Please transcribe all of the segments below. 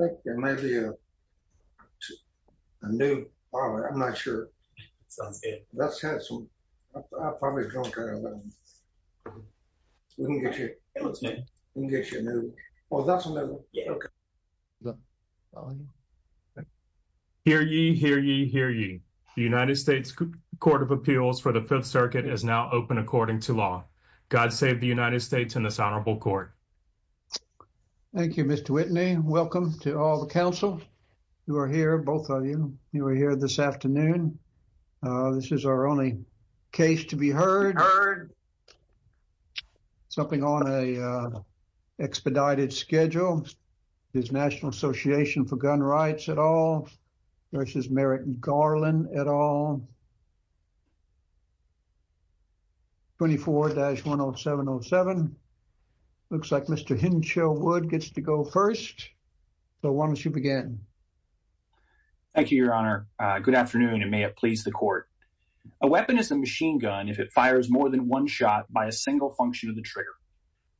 I think there may be a new, I'm not sure, let's have some, we can get you a new one. Hear ye, hear ye, hear ye, the United States Court of Appeals for the 5th Circuit is now open according to law. God save the United States and this honorable court. Thank you Mr. Whitney. Welcome to all the counsel who are here, both of you, who are here this afternoon. This is our only case to be heard. Something on a expedited schedule, National Association for Gun Rights et al. v. Merrick Garland et al. 24-10707. Looks like Mr. Hinshaw Wood gets to go first. So why don't you begin. Thank you your honor. Good afternoon and may it please the court. A weapon is a machine gun if it fires more than one shot by a single function of the trigger.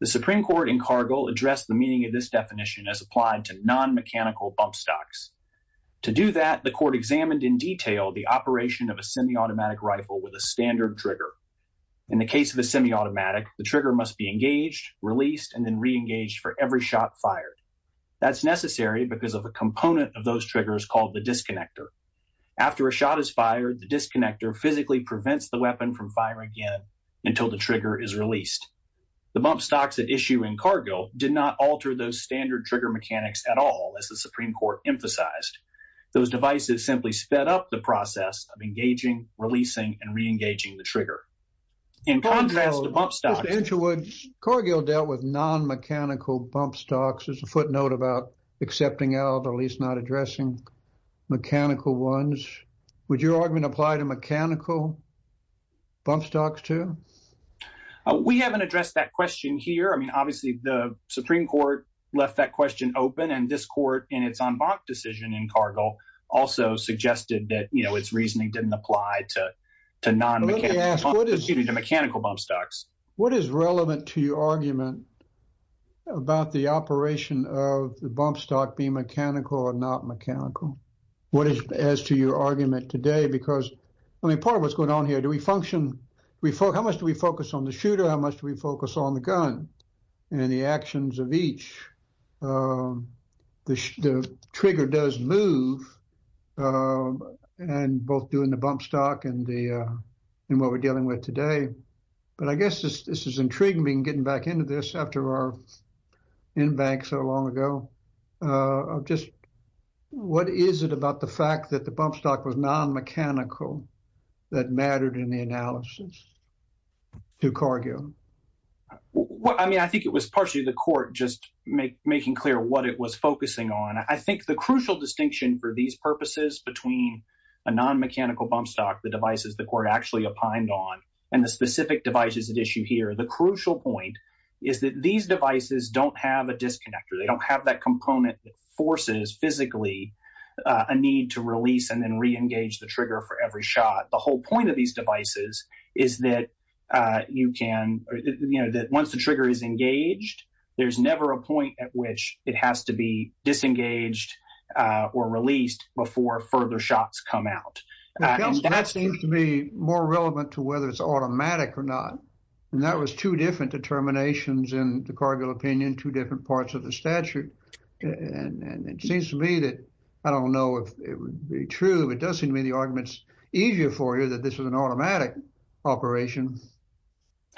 The Supreme Court in Cargill addressed the meaning of this definition as applied to non-mechanical bump stocks. To do that, the court examined in detail the operation of a semi-automatic rifle with a standard trigger. In the case of a semi-automatic, the trigger must be engaged, released, and then re-engaged for every shot fired. That's necessary because of a component of those triggers called the disconnector. After a shot is fired, the disconnector physically prevents the weapon from until the trigger is released. The bump stocks at issue in Cargill did not alter those standard trigger mechanics at all as the Supreme Court emphasized. Those devices simply sped up the process of engaging, releasing, and re-engaging the trigger. In contrast to bump stocks... Mr. Hinshaw Wood, Cargill dealt with non-mechanical bump stocks as a footnote about accepting out or at least not addressing mechanical ones. Would your argument apply to mechanical bump stocks too? We haven't addressed that question here. I mean, obviously, the Supreme Court left that question open, and this court in its en banc decision in Cargill also suggested that, you know, its reasoning didn't apply to non-mechanical bump stocks. What is relevant to your argument about the operation of the bump stock being mechanical or not mechanical? What is as to your argument today? Because, I mean, part of what's going on here, do we function, how much do we focus on the shooter, how much do we focus on the gun and the actions of each? The trigger does move, and both doing the bump stock and the, and what we're dealing with today. But I guess this is intriguing being getting back into this after our en banc so long ago. Just what is it about the fact that the bump stock was non-mechanical that mattered in the analysis to Cargill? Well, I mean, I think it was partially the court just making clear what it was focusing on. I think the crucial distinction for these purposes between a non-mechanical bump stock, the devices the court actually opined on, and the specific devices at issue here, the crucial point is that these devices don't have a disconnector. They don't have that component that forces physically a need to release and then re-engage the trigger for every shot. The whole point of these devices is that you can, you know, that once the trigger is engaged, there's never a point at which it has to be disengaged or released before further shots come out. That seems to be more relevant to whether it's automatic or not, and that was two different determinations in the Cargill opinion, two different parts of the statute. And it seems to me that, I don't know if it would be true, but it does seem to me the argument's easier for you that this was an automatic operation,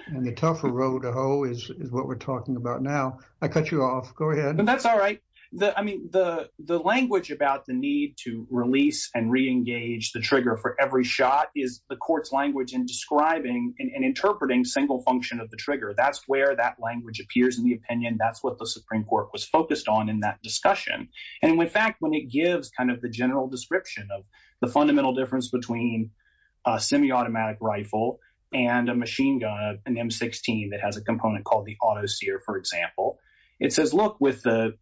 and the tougher road to hoe is what we're talking about now. I cut you off. Go ahead. That's all right. I mean, the language about the need to release and re-engage the trigger for every shot is the court's language in describing and interpreting single function of the trigger. That's where that language appears in the opinion. That's what the Supreme Court was focused on in that discussion. And in fact, when it gives kind of the general description of the fundamental difference between a semi-automatic rifle and a machine gun, an M16 that has a component called the auto sear, for example, it says, look, with the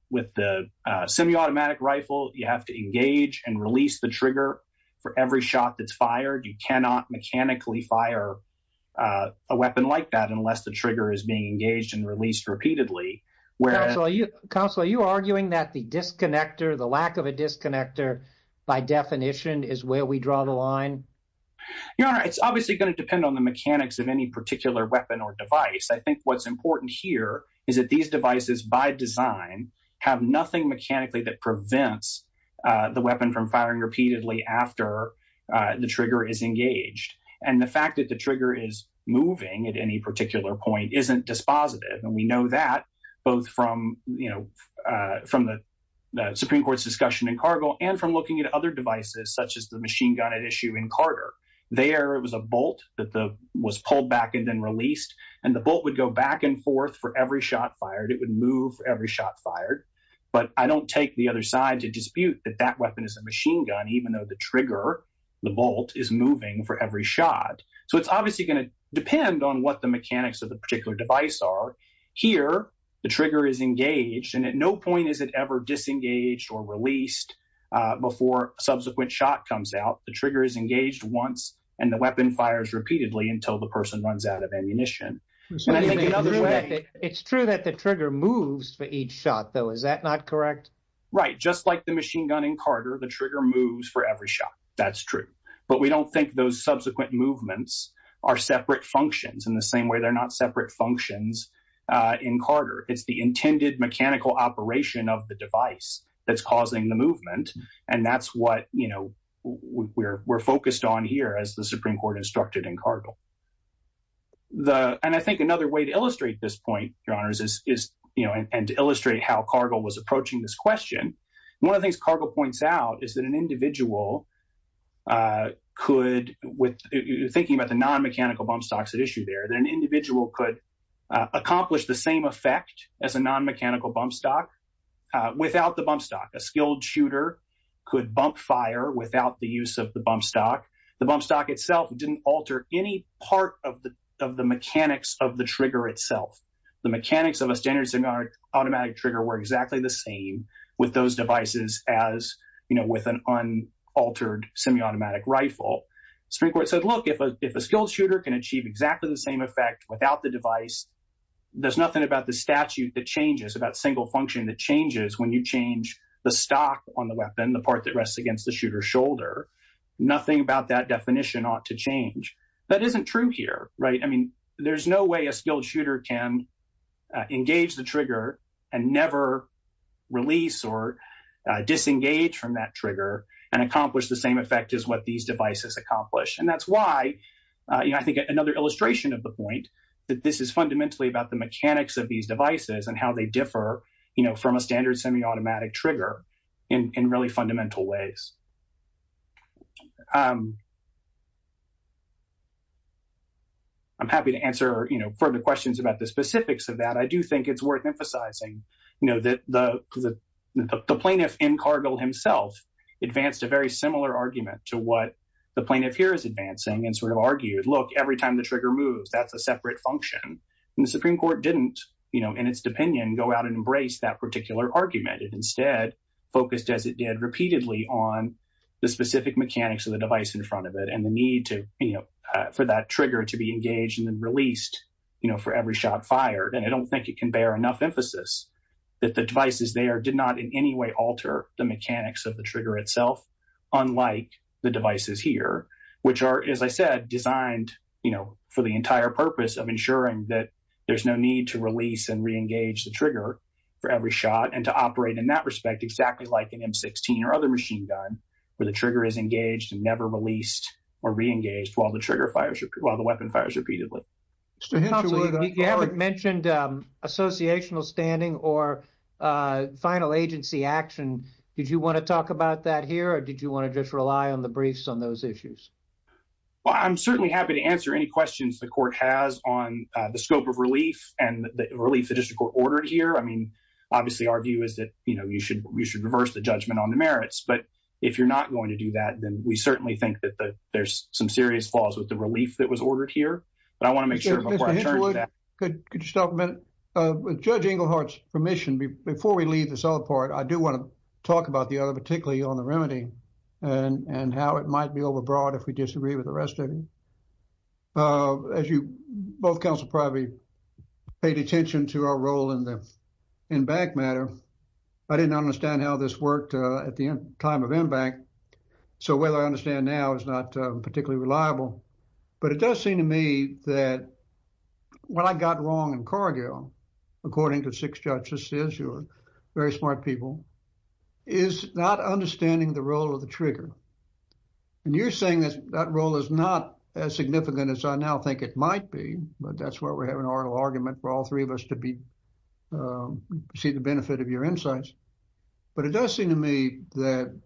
semi-automatic rifle, you have to engage and release the trigger for every shot that's fired. You cannot mechanically fire a weapon like that unless the trigger is being engaged and released repeatedly. Counsel, are you arguing that the disconnector, the lack of a disconnector, by definition, is where we draw the line? Your Honor, it's obviously going to depend on the mechanics of any particular weapon or device. I by design have nothing mechanically that prevents the weapon from firing repeatedly after the trigger is engaged. And the fact that the trigger is moving at any particular point isn't dispositive. And we know that both from the Supreme Court's discussion in Cargill and from looking at other devices, such as the machine gun at issue in Carter. There, it was a bolt that was pulled back and then released. And the bolt would go back and forth for every shot fired. It would move every shot fired. But I don't take the other side to dispute that that weapon is a machine gun, even though the trigger, the bolt is moving for every shot. So it's obviously going to depend on what the mechanics of the particular device are. Here, the trigger is engaged. And at no point is it ever disengaged or released before subsequent shot comes out. The trigger is engaged once and the weapon fires repeatedly until the person runs out of ammunition. So it's true that the trigger moves for each shot, though, is that not correct? Right. Just like the machine gun in Carter, the trigger moves for every shot. That's true. But we don't think those subsequent movements are separate functions in the same way. They're not separate functions in Carter. It's the intended mechanical operation of the device that's causing the movement. And that's what we're focused on here as the Supreme Court instructed in Cargill. And I think another way to illustrate this point, Your Honors, is, you know, and to illustrate how Cargill was approaching this question. One of the things Cargill points out is that an individual could, thinking about the non-mechanical bump stocks at issue there, that an individual could accomplish the same effect as a non-mechanical bump stock without the bump stock. A skilled shooter could bump fire without the use of the bump stock. The bump stock itself didn't alter any part of the mechanics of the trigger itself. The mechanics of a standard semi-automatic trigger were exactly the same with those devices as, you know, with an unaltered semi-automatic rifle. Supreme Court said, look, if a skilled shooter can achieve exactly the same effect without the device, there's nothing about the statute that changes, about single function that changes when you change the stock on the weapon, the part that definition ought to change. That isn't true here, right? I mean, there's no way a skilled shooter can engage the trigger and never release or disengage from that trigger and accomplish the same effect as what these devices accomplish. And that's why, you know, I think another illustration of the point that this is fundamentally about the mechanics of these devices and how they differ, you know, from a standard semi-automatic trigger in really fundamental ways. I'm happy to answer, you know, further questions about the specifics of that. I do think it's worth emphasizing, you know, that the plaintiff in Cargill himself advanced a very similar argument to what the plaintiff here is advancing and sort of argued, look, every time the trigger moves, that's a separate function. And the Supreme Court didn't, you know, in its opinion, go out and embrace that particular argument. It instead focused, as it did repeatedly, on the specific mechanics of the device in front of it and the need to, you know, for that trigger to be engaged and then released, you know, for every shot fired. And I don't think it can bear enough emphasis that the devices there did not in any way alter the mechanics of the trigger itself, unlike the devices here, which are, as I said, designed, you know, for the entire purpose of ensuring that there's no need to release and re-engage the trigger for every shot and to in that respect, exactly like an M16 or other machine gun, where the trigger is engaged and never released or re-engaged while the trigger fires, while the weapon fires repeatedly. Mr. Henshaw, you haven't mentioned associational standing or final agency action. Did you want to talk about that here, or did you want to just rely on the briefs on those issues? Well, I'm certainly happy to answer any questions the Court has on the scope of relief and the you should reverse the judgment on the merits. But if you're not going to do that, then we certainly think that there's some serious flaws with the relief that was ordered here, but I want to make sure before I turn to that. Mr. Henshaw, could you stop a minute? With Judge Englehart's permission, before we leave this all apart, I do want to talk about the other, particularly on the remedy and how it might be overbroad if we disagree with the rest of you. Uh, as you, both counsel probably paid attention to our role in the MBAC matter, I didn't understand how this worked at the time of MBAC, so whether I understand now is not particularly reliable. But it does seem to me that what I got wrong in Cargill, according to six judges, you're very smart people, is not understanding the role of the trigger. And you're saying that that role is not as significant as I now think it might be, but that's why we're having an oral argument for all three of us to be, see the benefit of your insights. But it does seem to me that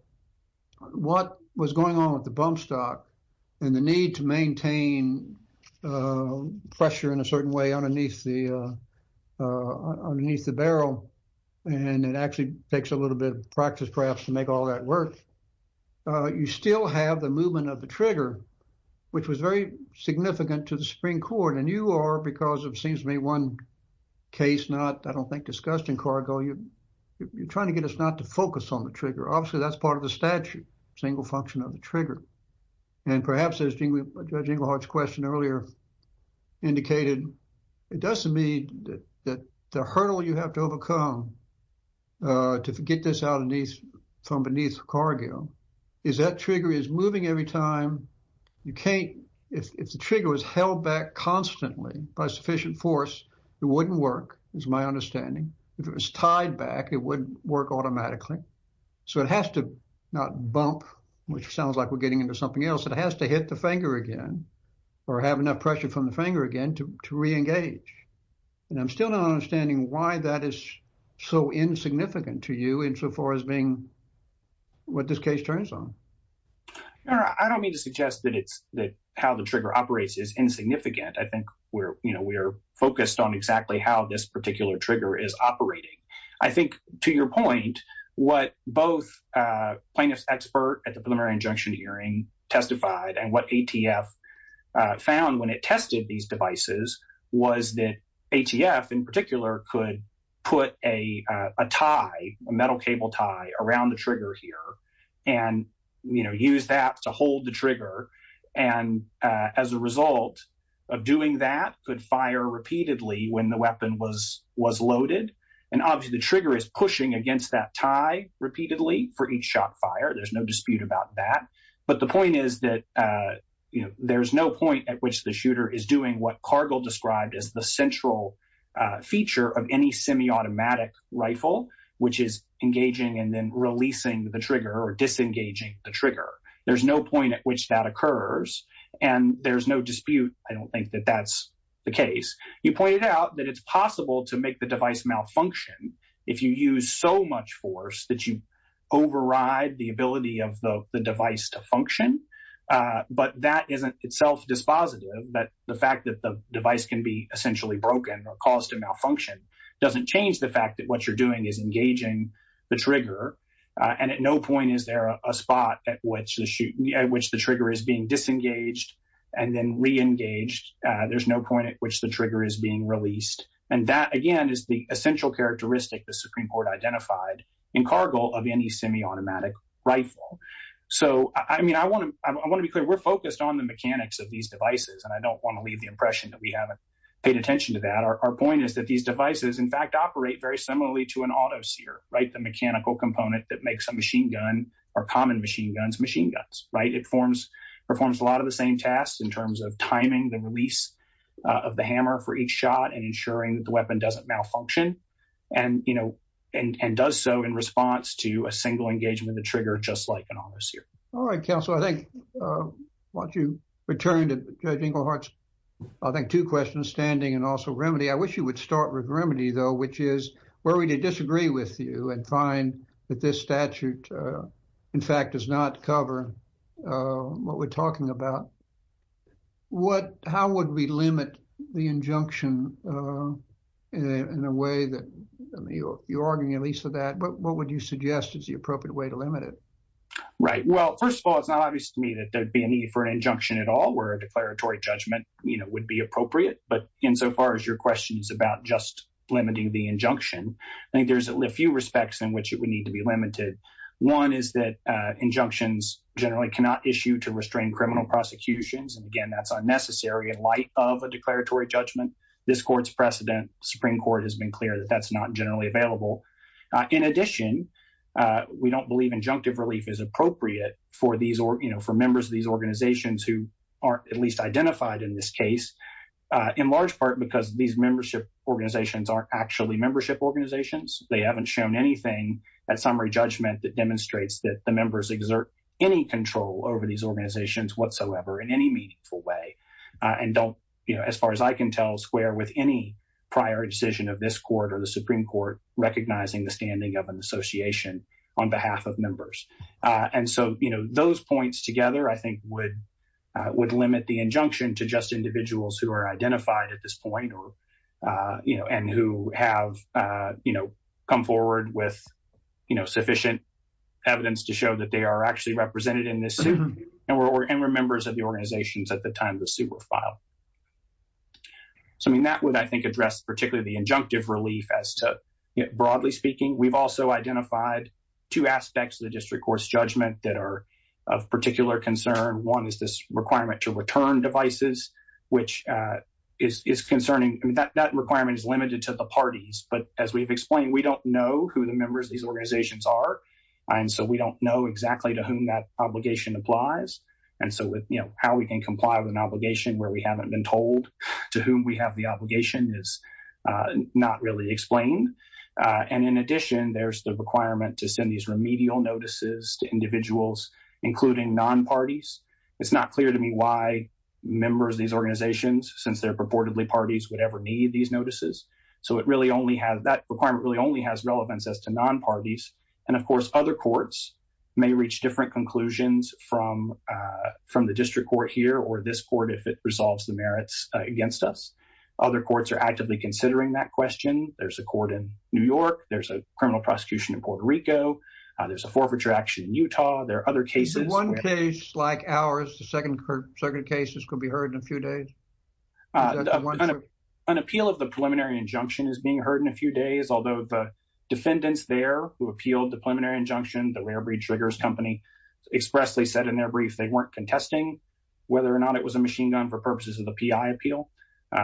what was going on with the bump stock and the need to maintain pressure in a certain way underneath the, underneath the barrel, and it actually takes a little bit of practice perhaps to make all that work, you still have the movement of the trigger, which was very significant to the Supreme Court. And you are, because it seems to me one case not, I don't think, discussed in Cargill, you're trying to get us not to focus on the trigger. Obviously, that's part of the statute, single function of the trigger. And perhaps as Judge Englehart's question earlier indicated, it does seem to me that the hurdle you have to overcome to get this out from beneath Cargill is that trigger is moving every time, you can't, if the trigger was held back constantly by sufficient force, it wouldn't work, is my understanding. If it was tied back, it wouldn't work automatically. So it has to not bump, which sounds like we're getting into something else. It has to hit the finger again or have enough pressure from the finger again to re-engage. And I'm still not understanding why that is so insignificant to you insofar as being what this case turns on. I don't mean to suggest that it's that how the trigger operates is insignificant. I think we're, you know, we are focused on exactly how this particular trigger is operating. I think to your point, what both plaintiff's expert at the preliminary injunction hearing testified and what ATF found when it tested these devices was that ATF in particular could put a tie, a metal cable tie, around the trigger here and, you know, use that to hold the trigger. And as a result of doing that, could fire repeatedly when the weapon was loaded. And obviously the trigger is pushing against that tie repeatedly for each shot fired. There's no dispute about that. But the point is that, you know, there's no point at which the shooter is doing what Cargill described as the central feature of any semi-automatic rifle, which is engaging and then releasing the trigger or disengaging the trigger. There's no point at which that occurs and there's no dispute. I don't think that that's the case. You pointed out that it's possible to make the device malfunction if you use so much force that you override the ability of the device to function. But that isn't itself dispositive, that the fact that the device can be essentially broken or caused to malfunction doesn't change the fact that what you're doing is engaging the trigger. And at no point is there a spot at which the trigger is being disengaged and then re-engaged. There's no point at which the trigger is being released. And that, again, is the essential characteristic the Supreme Court identified in Cargill of any semi-automatic rifle. So, I mean, I want to be clear, we're focused on the mechanics of these devices and I don't want to leave the impression that we haven't paid attention to that. Our point is that these devices, in fact, operate very similarly to an auto-seer, right? The mechanical component that makes a machine gun or common machine guns, machine guns, right? It performs a lot of the same tasks in terms of timing the release of the hammer for each shot and ensuring that the weapon doesn't malfunction and, you know, and does so in response to a single engagement of the trigger just like an auto-seer. All right, counsel. I think, why don't you return to Judge Ingleheart's, I think, two questions, standing and also remedy. I wish you would start with remedy, though, which is where we did disagree with you and find that this statute, in fact, does not cover what we're talking about. What, how would we limit the injunction in a way that, I mean, you're arguing at least for that, but what would you suggest is the appropriate way to limit it? Right. Well, first of all, it's not obvious to me that there'd be a need for an injunction at all where a declaratory judgment, you know, would be appropriate. But insofar as your question is about just limiting the injunction, I think there's a few respects in which it would need to be limited. One is that injunctions generally cannot issue to restrain criminal prosecutions. And again, that's unnecessary in light of a declaratory judgment. This court's precedent, Supreme Court, has been clear that that's not generally available. In addition, we don't believe injunctive relief is appropriate for these, you know, for members of these organizations who aren't at least identified in this case, in large part because these membership organizations aren't actually membership organizations. They haven't shown anything at summary judgment that demonstrates that the members exert any control over these organizations whatsoever in any meaningful way. And don't, you know, as far as I can tell, square with any prior decision of this court or the Supreme Court recognizing the standing of an association on behalf of members. And so, you know, those points together, I think, would limit the injunction to just individuals who are identified at this point or, you know, and who have, you know, come forward with, you know, sufficient evidence to show that they are actually represented in this suit and were members of the organizations at the time the suit were filed. So, I mean, that would, I think, address particularly the injunctive relief as to, you know, broadly speaking, we've also identified two aspects of the district court's judgment that are of particular concern. One is this requirement to return devices, which is concerning. I mean, that requirement is limited to the parties. But as we've explained, we don't know who the members of these organizations are. And so, we don't know exactly to whom that obligation applies. And so, with, you know, how we can comply with an obligation where we haven't been told to whom we have the obligation is not really explained. And in addition, there's the requirement to send these remedial notices to individuals, including non-parties. It's not clear to me why members of these organizations, since they're purportedly parties, would ever need these notices. So, it really only has, that requirement really only has relevance as to non-parties. And of course, other courts may reach different conclusions from the district court here or this court if it resolves the merits against us. Other courts are actively considering that question. There's a court in New York. There's a criminal prosecution in Puerto Rico. There's a forfeiture action in Utah. There are other cases. Is there one case like ours, the second circuit cases, could be heard in a few days? An appeal of the preliminary injunction is being heard in a few days, although the defendants there who appealed the preliminary injunction, the Rare Breed Triggers Company, expressly said in their brief they weren't contesting whether or not it was a machine gun for purposes of the PI appeal.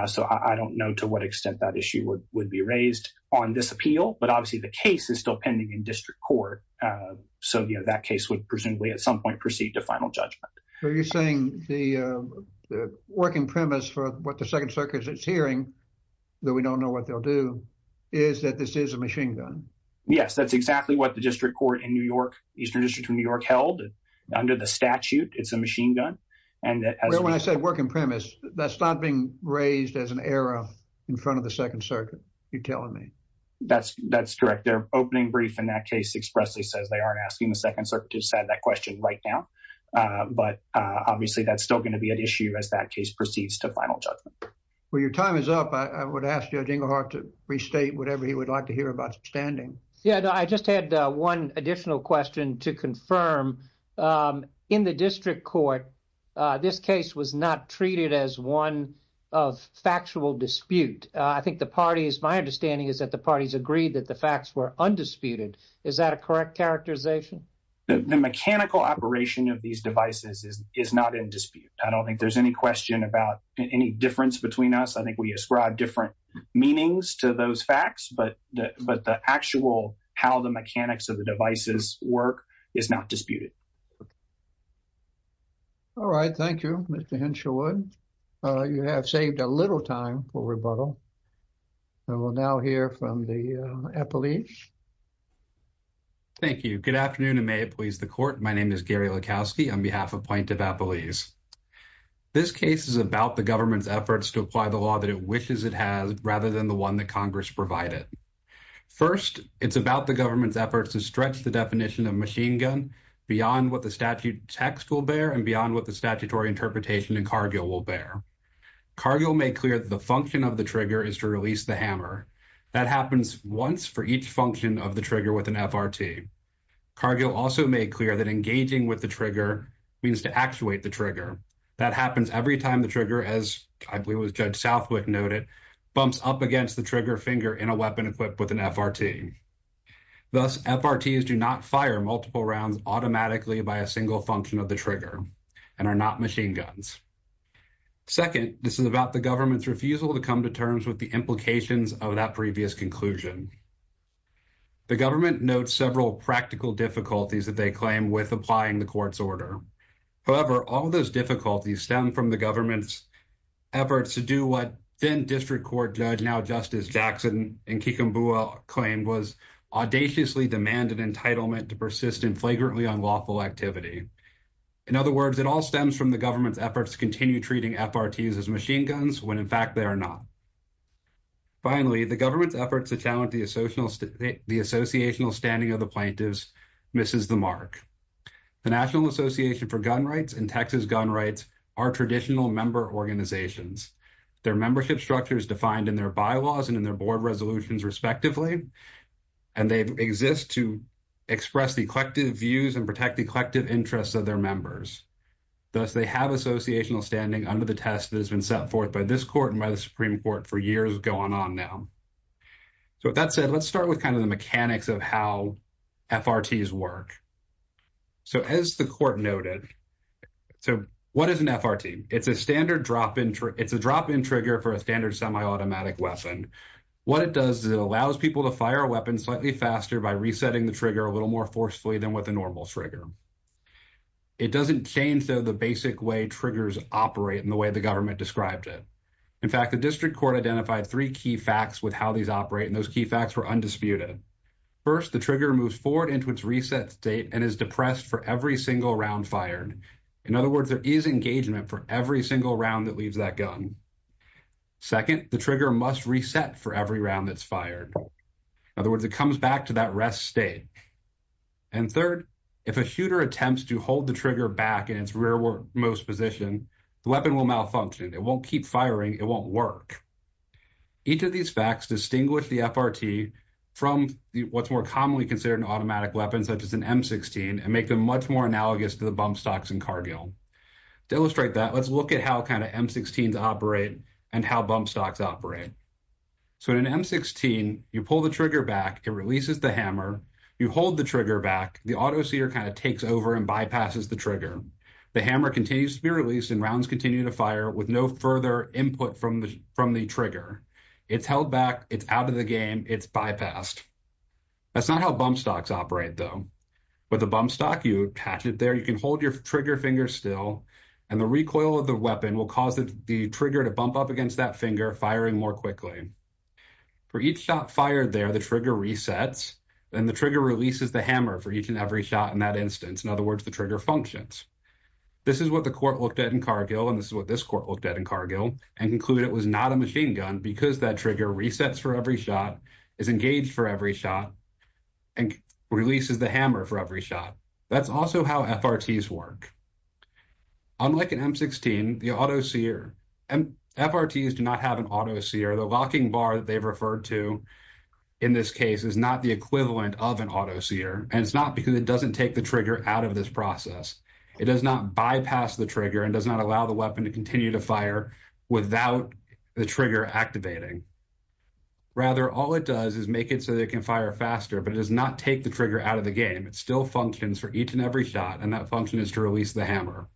So, I don't know to what extent that issue would be raised on this appeal. But obviously, the case is still pending in district court. So, you know, that case would presumably at some point proceed to final judgment. Are you saying the working premise for what the second circuit is hearing, though we don't know what they'll do, is that this is a machine gun? Yes, that's exactly what the district court in New York, Eastern District of New York, held under the statute. It's a machine gun. And when I say working premise, that's not being raised as an error in front of the second circuit. That's correct. Their opening brief in that case expressly says they aren't asking the second circuit to set that question right now. But obviously, that's still going to be an issue as that case proceeds to final judgment. Well, your time is up. I would ask Judge Ingleheart to restate whatever he would like to hear about standing. Yeah, I just had one additional question to confirm. In the district court, this case was not treated as one of factual dispute. I think the parties, my understanding is that the parties agreed that the facts were undisputed. Is that a correct characterization? The mechanical operation of these devices is not in dispute. I don't think there's any question about any difference between us. I think we ascribe different meanings to those facts, but the actual how the mechanics of the devices work is not disputed. Okay. All right. Thank you, Mr. Henshawood. You have saved a little time for rebuttal. And we'll now hear from the appellees. Thank you. Good afternoon, and may it please the court. My name is Gary Lukowski on behalf of Point of Appellees. This case is about the government's efforts to apply the law that it wishes it has rather than the one that Congress provided. First, it's about the government's efforts to stretch the definition of machine gun beyond what the statute text will bear and beyond what the statutory interpretation in Cargill will bear. Cargill made clear that the function of the trigger is to release the hammer. That happens once for each function of the trigger with an FRT. Cargill also made clear that engaging with the trigger means to actuate the trigger. That happens every time the trigger, as I believe was Judge Southwick noted, bumps up against the trigger finger in a weapon equipped with an FRT. Thus, FRTs do not fire multiple rounds automatically by a single function of the trigger and are not machine guns. Second, this is about the government's refusal to come to terms with the implications of that previous conclusion. The government notes several practical difficulties that they claim with applying the court's order. However, all those difficulties stem from the government's efforts to do what then District Court Judge, now Justice Jackson, in Kikambua claimed was audaciously demanded entitlement to persist in flagrantly unlawful activity. In other words, it all stems from the government's efforts to continue treating FRTs as machine guns when in fact they are not. Finally, the government's efforts to challenge the associational standing of the plaintiffs misses the mark. The National Association for Gun Rights and Texas Gun Rights are traditional member organizations. Their membership structure is defined in their bylaws and in their board resolutions, respectively, and they exist to express the collective views and protect the collective interests of their members. Thus, they have associational standing under the test that has been set forth by this court and by the Supreme Court for years going on now. So, with that said, let's start with kind of the mechanics of how FRTs work. So, as the court noted, so what is an FRT? It's a standard drop-in trigger. For a standard semi-automatic weapon, what it does is it allows people to fire a weapon slightly faster by resetting the trigger a little more forcefully than with a normal trigger. It doesn't change, though, the basic way triggers operate in the way the government described it. In fact, the District Court identified three key facts with how these operate, and those key facts were undisputed. First, the trigger moves forward into its reset state and is depressed for every single round fired. In other words, there is engagement for every single round that leaves that gun. Second, the trigger must reset for every round that's fired. In other words, it comes back to that rest state. And third, if a shooter attempts to hold the trigger back in its rearmost position, the weapon will malfunction. It won't keep firing. It won't work. Each of these facts distinguish the FRT from what's more commonly considered an automatic weapon, such as an M16, and make them much more analogous to the bump stocks in Cargill. To illustrate that, let's look at how kind of M16s operate and how bump stocks operate. So in an M16, you pull the trigger back. It releases the hammer. You hold the trigger back. The auto-seer kind of takes over and bypasses the trigger. The hammer continues to be released, and rounds continue to fire with no further input from the trigger. It's held back. It's out of the game. It's bypassed. That's not how bump stocks operate, though. With a bump stock, you can hold your trigger finger still, and the recoil of the weapon will cause the trigger to bump up against that finger, firing more quickly. For each shot fired there, the trigger resets. Then the trigger releases the hammer for each and every shot in that instance. In other words, the trigger functions. This is what the court looked at in Cargill, and this is what this court looked at in Cargill, and concluded it was not a machine gun because that trigger resets for every shot, is engaged for every shot, and releases the hammer for every shot. That's also how FRTs work. Unlike an M16, the auto-seer, FRTs do not have an auto-seer. The locking bar that they've referred to in this case is not the equivalent of an auto-seer, and it's not because it doesn't take the trigger out of this process. It does not bypass the trigger and does not allow the weapon to continue to fire without the trigger activating. Rather, all it does is make it so that it can fire faster, but it does not take the trigger out of the game. It still functions for each and every shot, and that function is to release the hammer.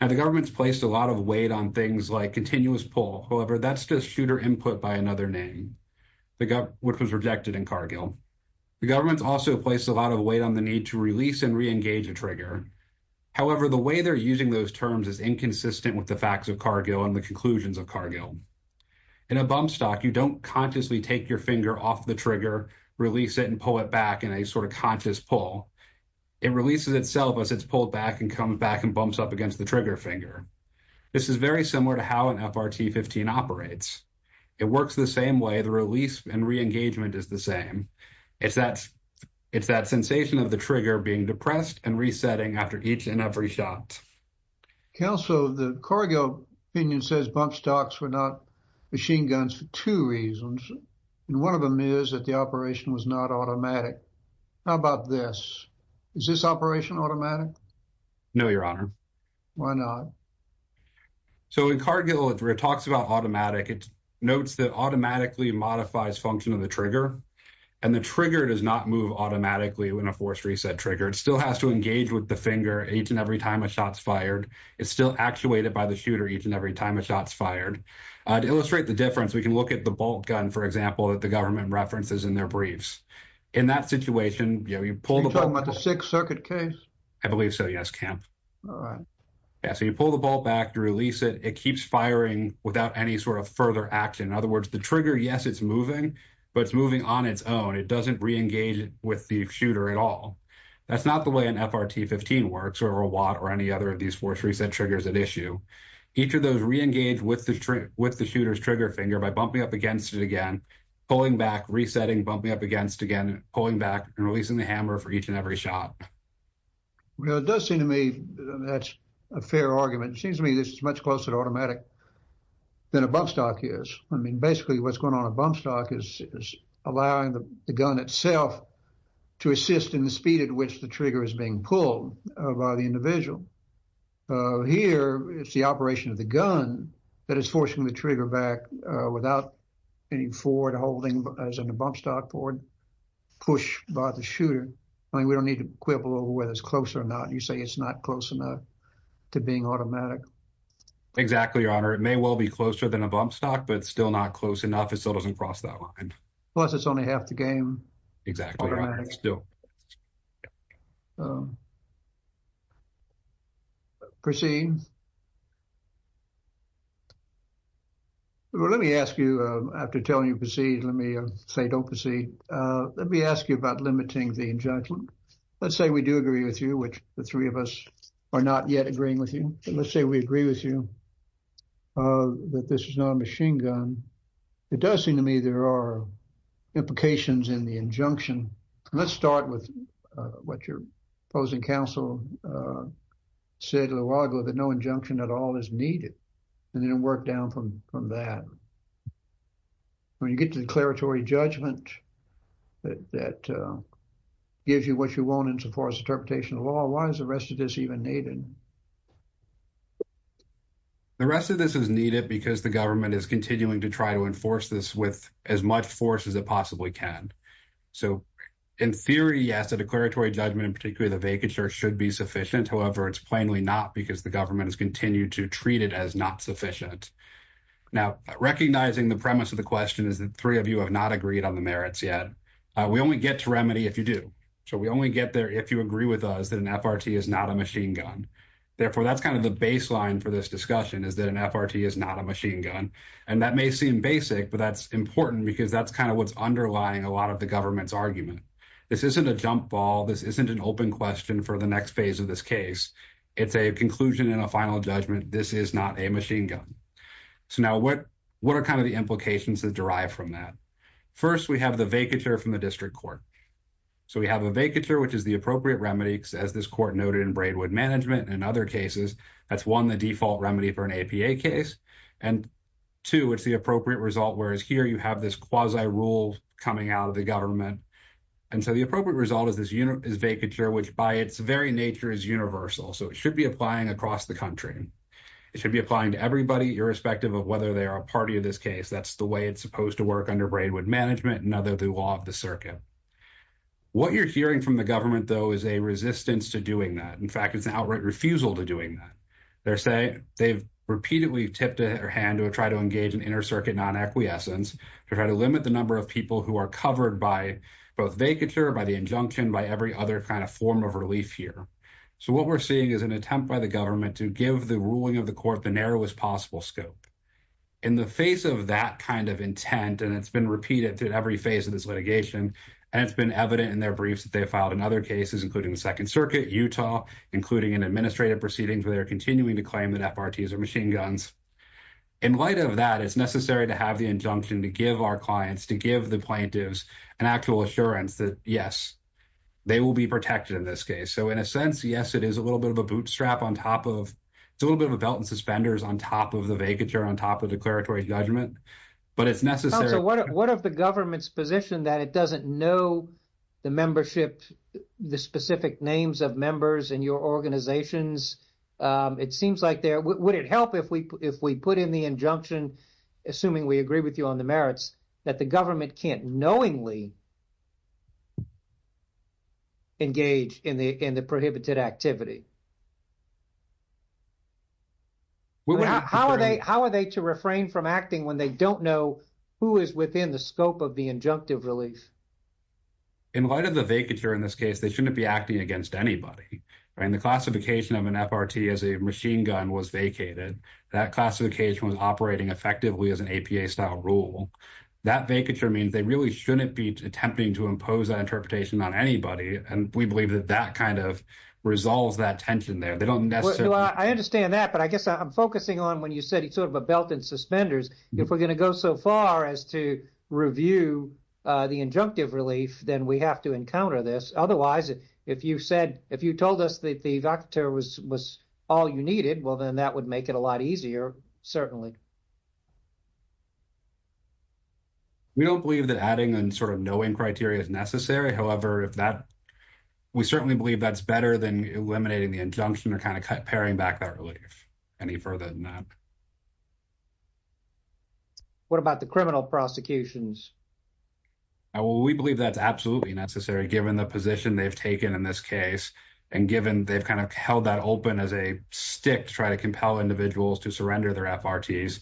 Now, the government's placed a lot of weight on things like continuous pull. However, that's just shooter input by another name, which was rejected in Cargill. The government's also placed a lot of weight on the need to release and re-engage a trigger. However, the way they're using those terms is inconsistent with the facts of Cargill and the conclusions of Cargill. In a bump stock, you don't consciously take your finger off the trigger, release it, and pull it back in a sort of conscious pull. It releases itself as it's pulled back and comes back and bumps up against the trigger finger. This is very similar to how an FRT-15 operates. It works the same way. The release and re-engagement is the same. It's that sensation of the trigger being depressed and resetting after each and every shot. Counsel, the Cargill opinion says bump stocks were not machine guns for two reasons, and one of them is that the operation was not automatic. How about this? Is this operation automatic? No, Your Honor. Why not? So, in Cargill, where it talks about automatic, it notes that it automatically modifies function of the trigger, and the trigger does not move automatically when a force reset trigger. It still has to engage with the finger each and every time a shot's fired. It's still actuated by the shooter each and every time a shot's fired. To illustrate the difference, we can look at the bolt gun, for example, that the government references in their briefs. In that situation, you know, you pull the bolt- Are you talking about the Sixth Circuit case? I believe so, yes, Camp. All right. Yeah, so you pull the bolt back, you release it, it keeps firing without any sort of further action. In other words, the trigger, yes, it's moving, but it's moving on its own. It doesn't reengage with the shooter at all. That's not the way an FRT-15 works, or a Watt, or any other of these force reset triggers at issue. Each of those reengage with the shooter's trigger finger by bumping up against it again, pulling back, resetting, bumping up against again, pulling back, and releasing the hammer for each and every shot. Well, it does seem to me that's a fair argument. It seems to me this is much closer to automatic than a bump stock is. I mean, basically, what's going on a bump stock is allowing the gun itself to assist in the speed at which the trigger is being pulled by the individual. Here, it's the operation of the gun that is forcing the trigger back without any forward holding, as in a bump stock forward push by the shooter. I mean, we don't need to quibble over whether it's close or not. You say it's not close enough to being automatic. Exactly, Your Honor. It may well be closer than a bump stock, but it's still not close enough. It still doesn't cross that line. Plus, it's only half the game. Exactly. Proceed. Let me ask you, after telling you proceed, let me say don't proceed. Let me ask you about limiting the judgment. Let's say we do agree with you, which the three of us are not yet agreeing with you. Let's say we agree with you that this is not a machine gun. It does seem to me there are implications in the injunction. Let's start with what your opposing counsel said a little while ago that no injunction at all is needed, and then work down from that. When you get to declaratory judgment that gives you what you want in so far as interpretation of law, why is the rest of this needed? The rest of this is needed because the government is continuing to try to enforce this with as much force as it possibly can. In theory, yes, a declaratory judgment, in particular the vacature, should be sufficient. However, it's plainly not because the government has continued to treat it as not sufficient. Now, recognizing the premise of the question is that three of you have not agreed on the merits yet. We only get to remedy if you do. We only get there if you agree with us that an FRT is not a machine gun. Therefore, that's kind of the baseline for this discussion is that an FRT is not a machine gun. That may seem basic, but that's important because that's kind of what's underlying a lot of the government's argument. This isn't a jump ball. This isn't an open question for the next phase of this case. It's a conclusion and a final judgment. This is not a machine gun. Now, what are kind of the implications that derive from that? First, we have the vacature from the district court. So, we have a vacature, which is the appropriate remedy, as this court noted in Braidwood Management and other cases. That's, one, the default remedy for an APA case, and two, it's the appropriate result, whereas here you have this quasi-rule coming out of the government. And so, the appropriate result is this vacature, which by its very nature is universal. So, it should be applying across the country. It should be applying to everybody, irrespective of whether they are a party of this case. That's the way it's supposed to work under Braidwood Management and under the law of the circuit. What you're hearing from the government, though, is a resistance to doing that. In fact, it's an outright refusal to doing that. They're saying they've repeatedly tipped their hand to try to engage in inter-circuit non-acquiescence to try to limit the number of people who are covered by both vacature, by the injunction, by every other kind of form of relief here. So, what we're seeing is an attempt by the government to give the ruling of the court the narrowest possible scope. In the face of that kind of intent, and it's been repeated at every phase of this litigation, and it's been evident in their briefs that they've filed in other cases, including the Second Circuit, Utah, including in administrative proceedings where they're continuing to claim that FRTs are machine guns. In light of that, it's necessary to have the injunction to give our clients, to give the plaintiffs an actual assurance that, yes, they will be protected in this case. So, in a sense, yes, it is a little bit of a bootstrap on top of, it's a little bit on top of declaratory judgment, but it's necessary. So, what if the government's position that it doesn't know the membership, the specific names of members in your organizations? It seems like there, would it help if we put in the injunction, assuming we agree with you on the merits, that the government can't knowingly engage in the prohibited activity? Well, how are they, how are they to refrain from acting when they don't know who is within the scope of the injunctive relief? In light of the vacature in this case, they shouldn't be acting against anybody, right? And the classification of an FRT as a machine gun was vacated. That classification was operating effectively as an APA-style rule. That vacature means they really shouldn't be attempting to impose that interpretation on anybody, and we believe that kind of resolves that tension there. They don't necessarily- Well, I understand that, but I guess I'm focusing on when you said it's sort of a belt in suspenders. If we're going to go so far as to review the injunctive relief, then we have to encounter this. Otherwise, if you said, if you told us that the vacature was all you needed, well, then that would make it a lot easier, certainly. We don't believe that adding and sort of knowing criteria is necessary. However, if that, we certainly believe that's better than eliminating the injunction or kind of paring back that relief. Any further than that? What about the criminal prosecutions? We believe that's absolutely necessary, given the position they've taken in this case, and given they've kind of held that open as a stick to try to compel individuals to surrender their FRTs,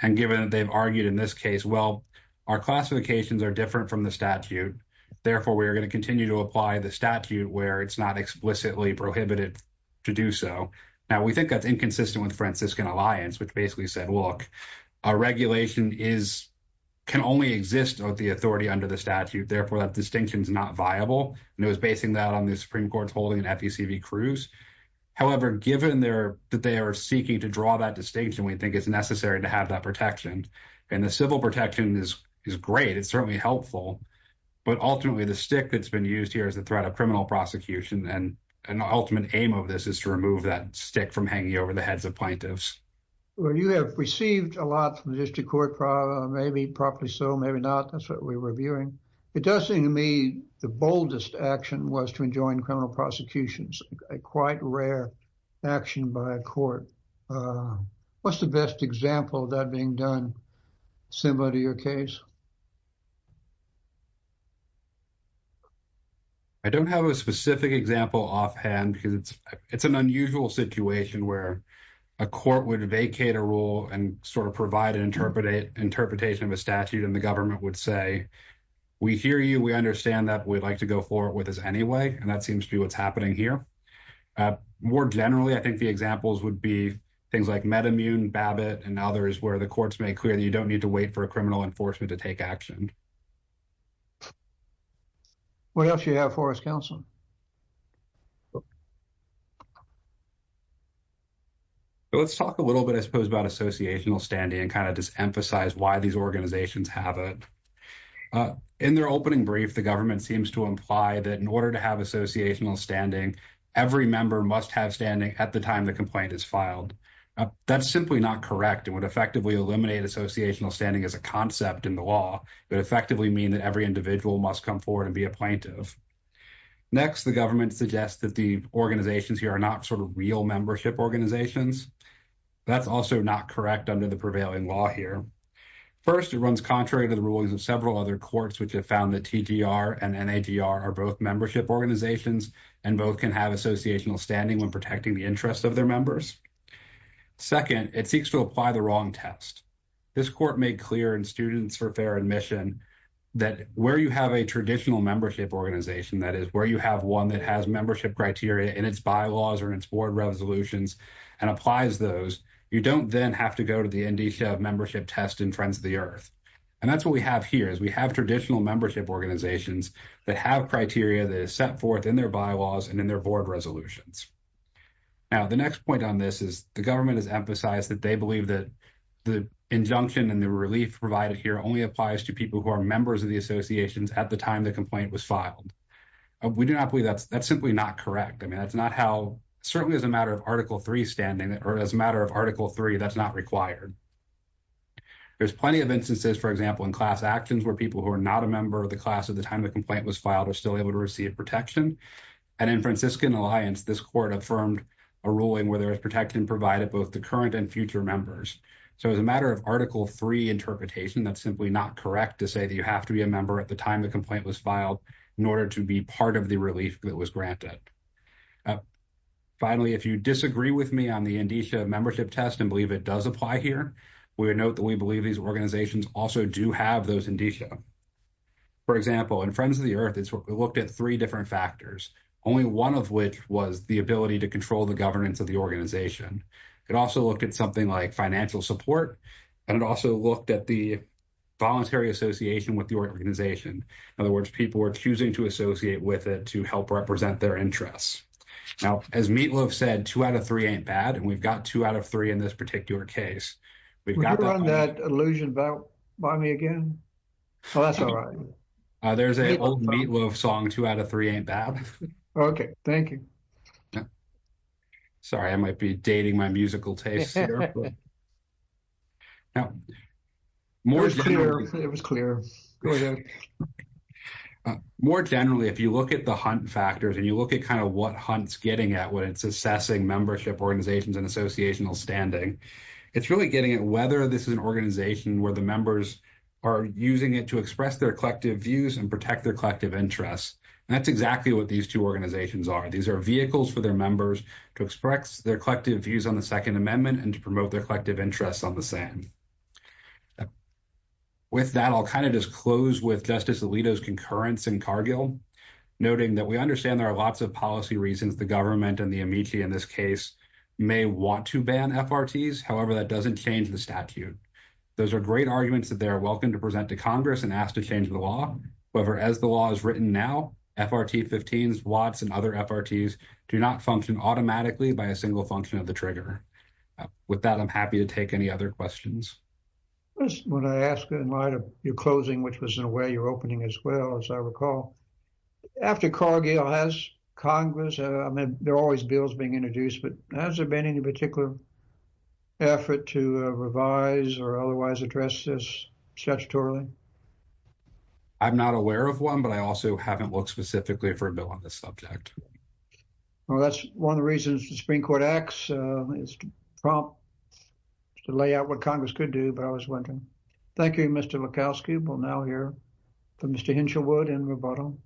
and given that they've argued in this case, well, our classifications are different from the statute. Therefore, we are going to continue to apply the statute where it's not explicitly prohibited to do so. Now, we think that's inconsistent with Franciscan Alliance, which basically said, look, our regulation can only exist with the authority under the statute. Therefore, that distinction is not viable, and it was basing that on the Supreme Court's holding an FECV cruise. However, given that they are seeking to draw that distinction, we think it's to have that protection, and the civil protection is great. It's certainly helpful, but ultimately, the stick that's been used here is the threat of criminal prosecution, and the ultimate aim of this is to remove that stick from hanging over the heads of plaintiffs. You have received a lot from the district court, probably, maybe probably so, maybe not. That's what we're reviewing. It does seem to me the boldest action was to enjoin criminal prosecutions, quite rare action by a court. What's the best example of that being done similar to your case? I don't have a specific example offhand, because it's an unusual situation where a court would vacate a rule and sort of provide an interpretation of a statute, and the government would say, we hear you. We understand that. We'd like to go forward with this anyway, and that seems to be what's happening here. More generally, I think the examples would be things like MedImmune, BABIT, and others where the courts make clear that you don't need to wait for a criminal enforcement to take action. What else do you have for us, counsel? Let's talk a little bit, I suppose, about associational standing and kind of just emphasize why these organizations have it. In their opening brief, the government seems to imply that in order to have associational standing, every member must have standing at the time the complaint is filed. That's simply not correct. It would effectively eliminate associational standing as a concept in the law. It would effectively mean that every individual must come forward and be a plaintiff. Next, the government suggests that the organizations here are not sort of real membership organizations. That's also not correct under the prevailing law here. First, it runs contrary to the rulings of several other courts, which have found that TGR and NAGR are both membership organizations and both can have associational standing when protecting the interests of their members. Second, it seeks to apply the wrong test. This court made clear in Students for Fair Admission that where you have a traditional membership organization, that is, where you have one that has membership criteria in its bylaws or in its board resolutions and applies those, you don't then have to go to the NDSHA membership test in Friends of the Earth. And that's what we have here, is we have traditional membership organizations that have criteria that is set forth in their bylaws and in their board resolutions. Now, the next point on this is the government has emphasized that they believe that the injunction and the relief provided here only applies to people who are members of the associations at the time the complaint was filed. We do not believe that's simply not correct. I mean, that's not how, certainly as a matter of Article III standing, or as a matter of Article III, that's not required. There's plenty of instances, for example, in class actions where people who are not a member of the class at the time the complaint was filed are still able to receive protection. And in Franciscan Alliance, this court affirmed a ruling where there is protection provided both to current and future members. So, as a matter of Article III interpretation, that's simply not correct to say that you have to be a member at the time the complaint was filed in order to be part of the relief that was granted. Finally, if you disagree with me on the NDSHA membership test and believe it does apply here, we would note that we believe these organizations also do have those NDSHA. For example, in Friends of the Earth, it looked at three different factors, only one of which was the ability to control the governance of the organization. It also looked at something like financial support, and it also looked at the voluntary association with the organization. In other words, people were choosing to associate with it to help represent their interests. Now, as Meatloaf said, two out of three ain't bad, and we've got two out of three in this particular case. Would you run that allusion by me again? Oh, that's all right. There's an old Meatloaf song, two out of three ain't bad. Okay, thank you. Sorry, I might be dating my musical taste here. It was clear. More generally, if you look at the hunt factors and you look at kind of what Hunt's getting at when it's assessing membership organizations and associational standing, it's really getting at whether this is an organization where the members are using it to express their collective views and protect their collective interests. That's exactly what these two organizations are. These are vehicles for their members to express their collective views on the Second Amendment and to promote their collective interests on the same. With that, I'll kind of just close with Justice Alito's concurrence in Cargill, noting that we understand there are lots of policy reasons the government and the amici in this case may want to ban FRTs. However, that doesn't change the statute. Those are great arguments that they are welcome to present to Congress and ask to change the law. However, as the law is written now, FRT 15s, Watts, and other FRTs do not function automatically by a single function of the trigger. With that, I'm happy to take any other questions. I just want to ask in light of your closing, which was in a way your opening as I recall. After Cargill has Congress, I mean, there are always bills being introduced, but has there been any particular effort to revise or otherwise address this statutorily? I'm not aware of one, but I also haven't looked specifically for a bill on this subject. Well, that's one of the reasons the Supreme Court acts as a prompt to lay out what Congress could do, but I was wondering. Thank you, Mr. Lukowski. We'll now hear from Mr. Hinshelwood in rebuttal.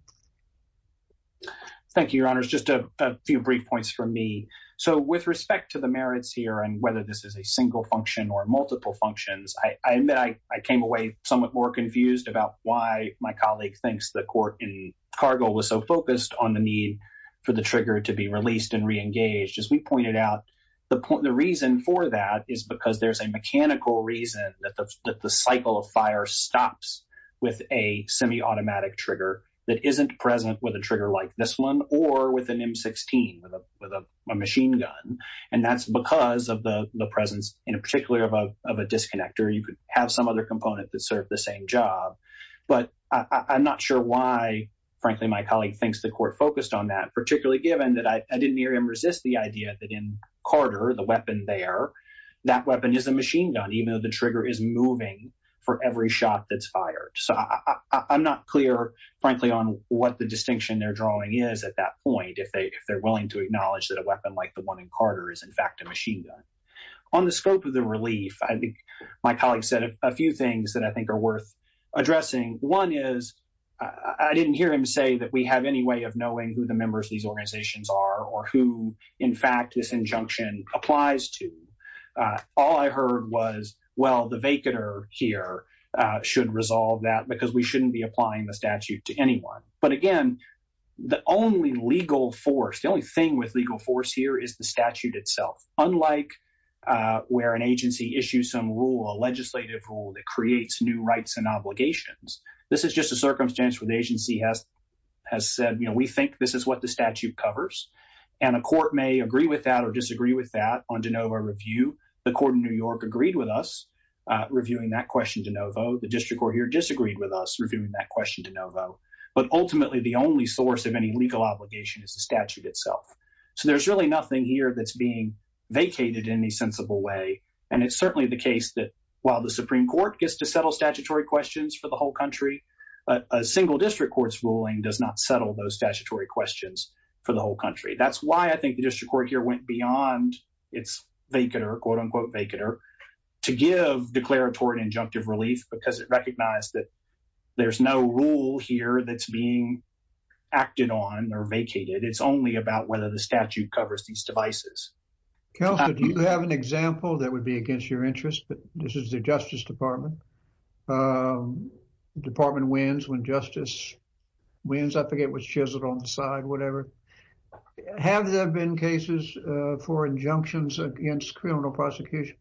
Thank you, Your Honors. Just a few brief points from me. So with respect to the merits here and whether this is a single function or multiple functions, I admit I came away somewhat more confused about why my colleague thinks the court in Cargill was so focused on the need for the trigger to be released and reengaged. As we pointed out, the reason for that is because there's a mechanical reason that the cycle of fire stops with a semi-automatic trigger that isn't present with a trigger like this one or with an M16, with a machine gun. And that's because of the presence, in particular, of a disconnector. You could have some other component that served the same job. But I'm not sure why, frankly, my colleague thinks the court focused on that, particularly given that I didn't hear him resist the idea that in Carter, the weapon there, that weapon is a machine gun, even though the trigger is moving for every shot that's fired. So I'm not clear, frankly, on what the distinction they're drawing is at that point, if they're willing to acknowledge that a weapon like the one in Carter is, in fact, a machine gun. On the scope of the relief, I think my colleague said a few things that I think are worth addressing. One is I didn't hear him say that we have any way of knowing who the members of these organizations are or who, in fact, this injunction applies to. All I heard was, well, the vacanter here should resolve that because we shouldn't be applying the statute to anyone. But again, the only legal force, the only thing with legal force here is the statute itself. Unlike where an agency issues some rule, a legislative rule that creates new rights and obligations, this is just a circumstance where the agency has said, you know, we think this is what the statute covers. And a court may agree with that or disagree with that on de novo review. The court in New York agreed with us reviewing that question de novo. The district court here disagreed with us reviewing that question de novo. But ultimately, the only source of any legal obligation is the statute itself. So there's really nothing here that's being vacated in any sensible way. And it's certainly the case that while the Supreme Court gets to settle statutory questions for the whole country, a single district court's ruling does not settle those statutory questions for the whole country. That's why I think the district court here went beyond its vacanter, quote, unquote, vacanter, to give declaratory and injunctive relief, because it recognized that there's no rule here that's being acted on or vacated. It's only about whether the statute covers these devices. Kelsey, do you have an example that would be against your interest? This is the Justice Department. Department wins when justice wins. I forget what's chiseled on the side, whatever. Have there been cases for injunctions against criminal prosecutions?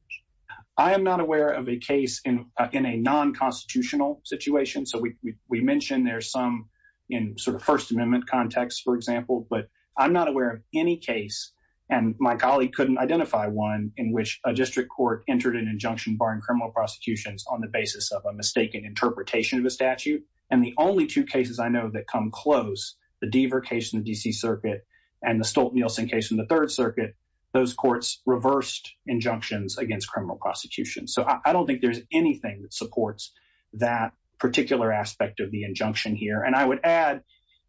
I am not aware of a case in a non constitutional situation. So we mentioned there's some in sort of First Amendment context, for example, but I'm not aware of any case. And my colleague couldn't identify one in which a district court entered an injunction barring criminal prosecutions on the basis of a mistaken interpretation of a statute. And the only two cases I know that come close, the Deaver case in the D.C. Circuit and the Stolt-Nielsen case in the Third Circuit, those courts reversed injunctions against criminal prosecution. So I don't think there's anything that supports that particular aspect of the injunction here. And I would add,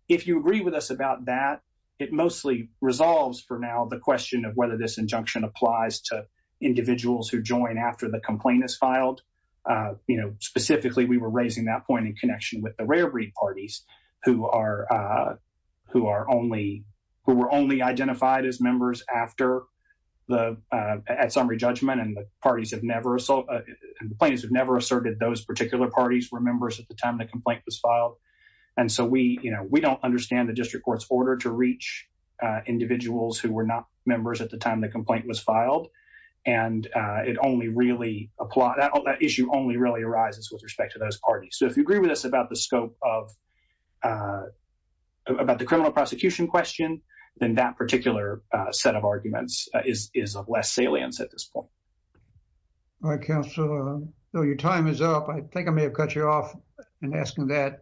if you agree with us about that, it mostly resolves for now the question of whether this injunction applies to individuals who join after the complaint is filed. Specifically, we were raising that point in connection with the rare breed parties who were only identified as members after the summary judgment and the parties have never asserted those particular parties were members at the time the complaint was filed. And so we, you know, we don't understand the district court's order to reach individuals who were not members at the time the complaint was filed. And it only really applies, that issue only really arises with respect to those parties. So if you agree with us about the scope of, about the criminal prosecution question, then that particular set of arguments is of less salience at this point. All right, Counselor. So your time is up. I think I may have cut you off in asking that.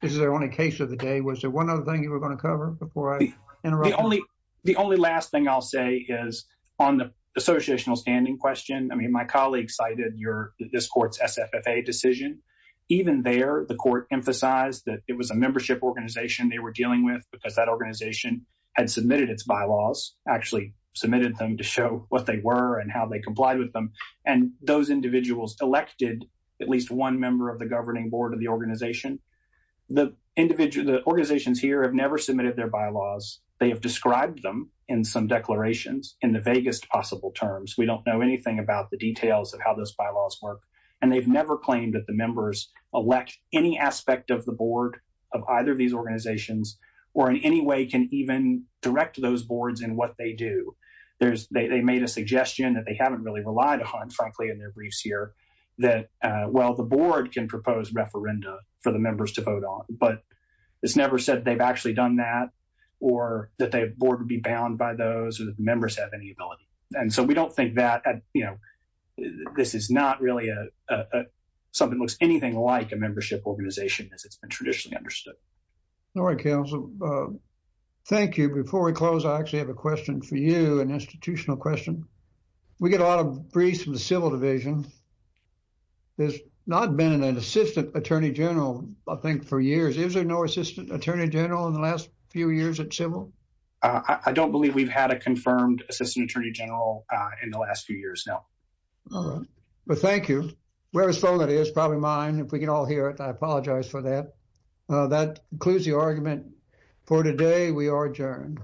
This is our only case of the day. Was there one other thing you were going to cover before I interrupt? The only, the only last thing I'll say is on the associational standing question. I mean, my colleague cited your, this court's SFFA decision. Even there, the court emphasized that it was a membership organization they were dealing with because that organization had submitted its bylaws, actually submitted them to show what they were and how they complied with them. And those individuals elected at least one member of the governing board of the organization. The individual, the organizations here have never submitted their bylaws. They have described them in some declarations in the vaguest possible terms. We don't know anything about the details of how those bylaws work. And they've never claimed that the members elect any aspect of the board of either of these organizations, or in any way can even direct those boards in what they do. They made a suggestion that they haven't really relied upon, frankly, in their briefs here, that, well, the board can propose referenda for the members to vote on. But it's never said they've actually done that, or that the board would be bound by those, or that the members have any ability. And so we don't think that, you know, this is not really something that looks anything like a membership organization as it's been traditionally understood. All right, counsel. Thank you. Before we close, I actually have a question for you, an institutional question. We get a lot of briefs from the civil division. There's not been an assistant attorney general, I think, for years. Is there no assistant attorney general in the last few years at civil? I don't believe we've had a confirmed assistant attorney general in the last few years, no. All right. Well, thank you. Wherever's phone that is, probably mine. If we can all hear it, I apologize for that. That concludes the argument for today. We are adjourned.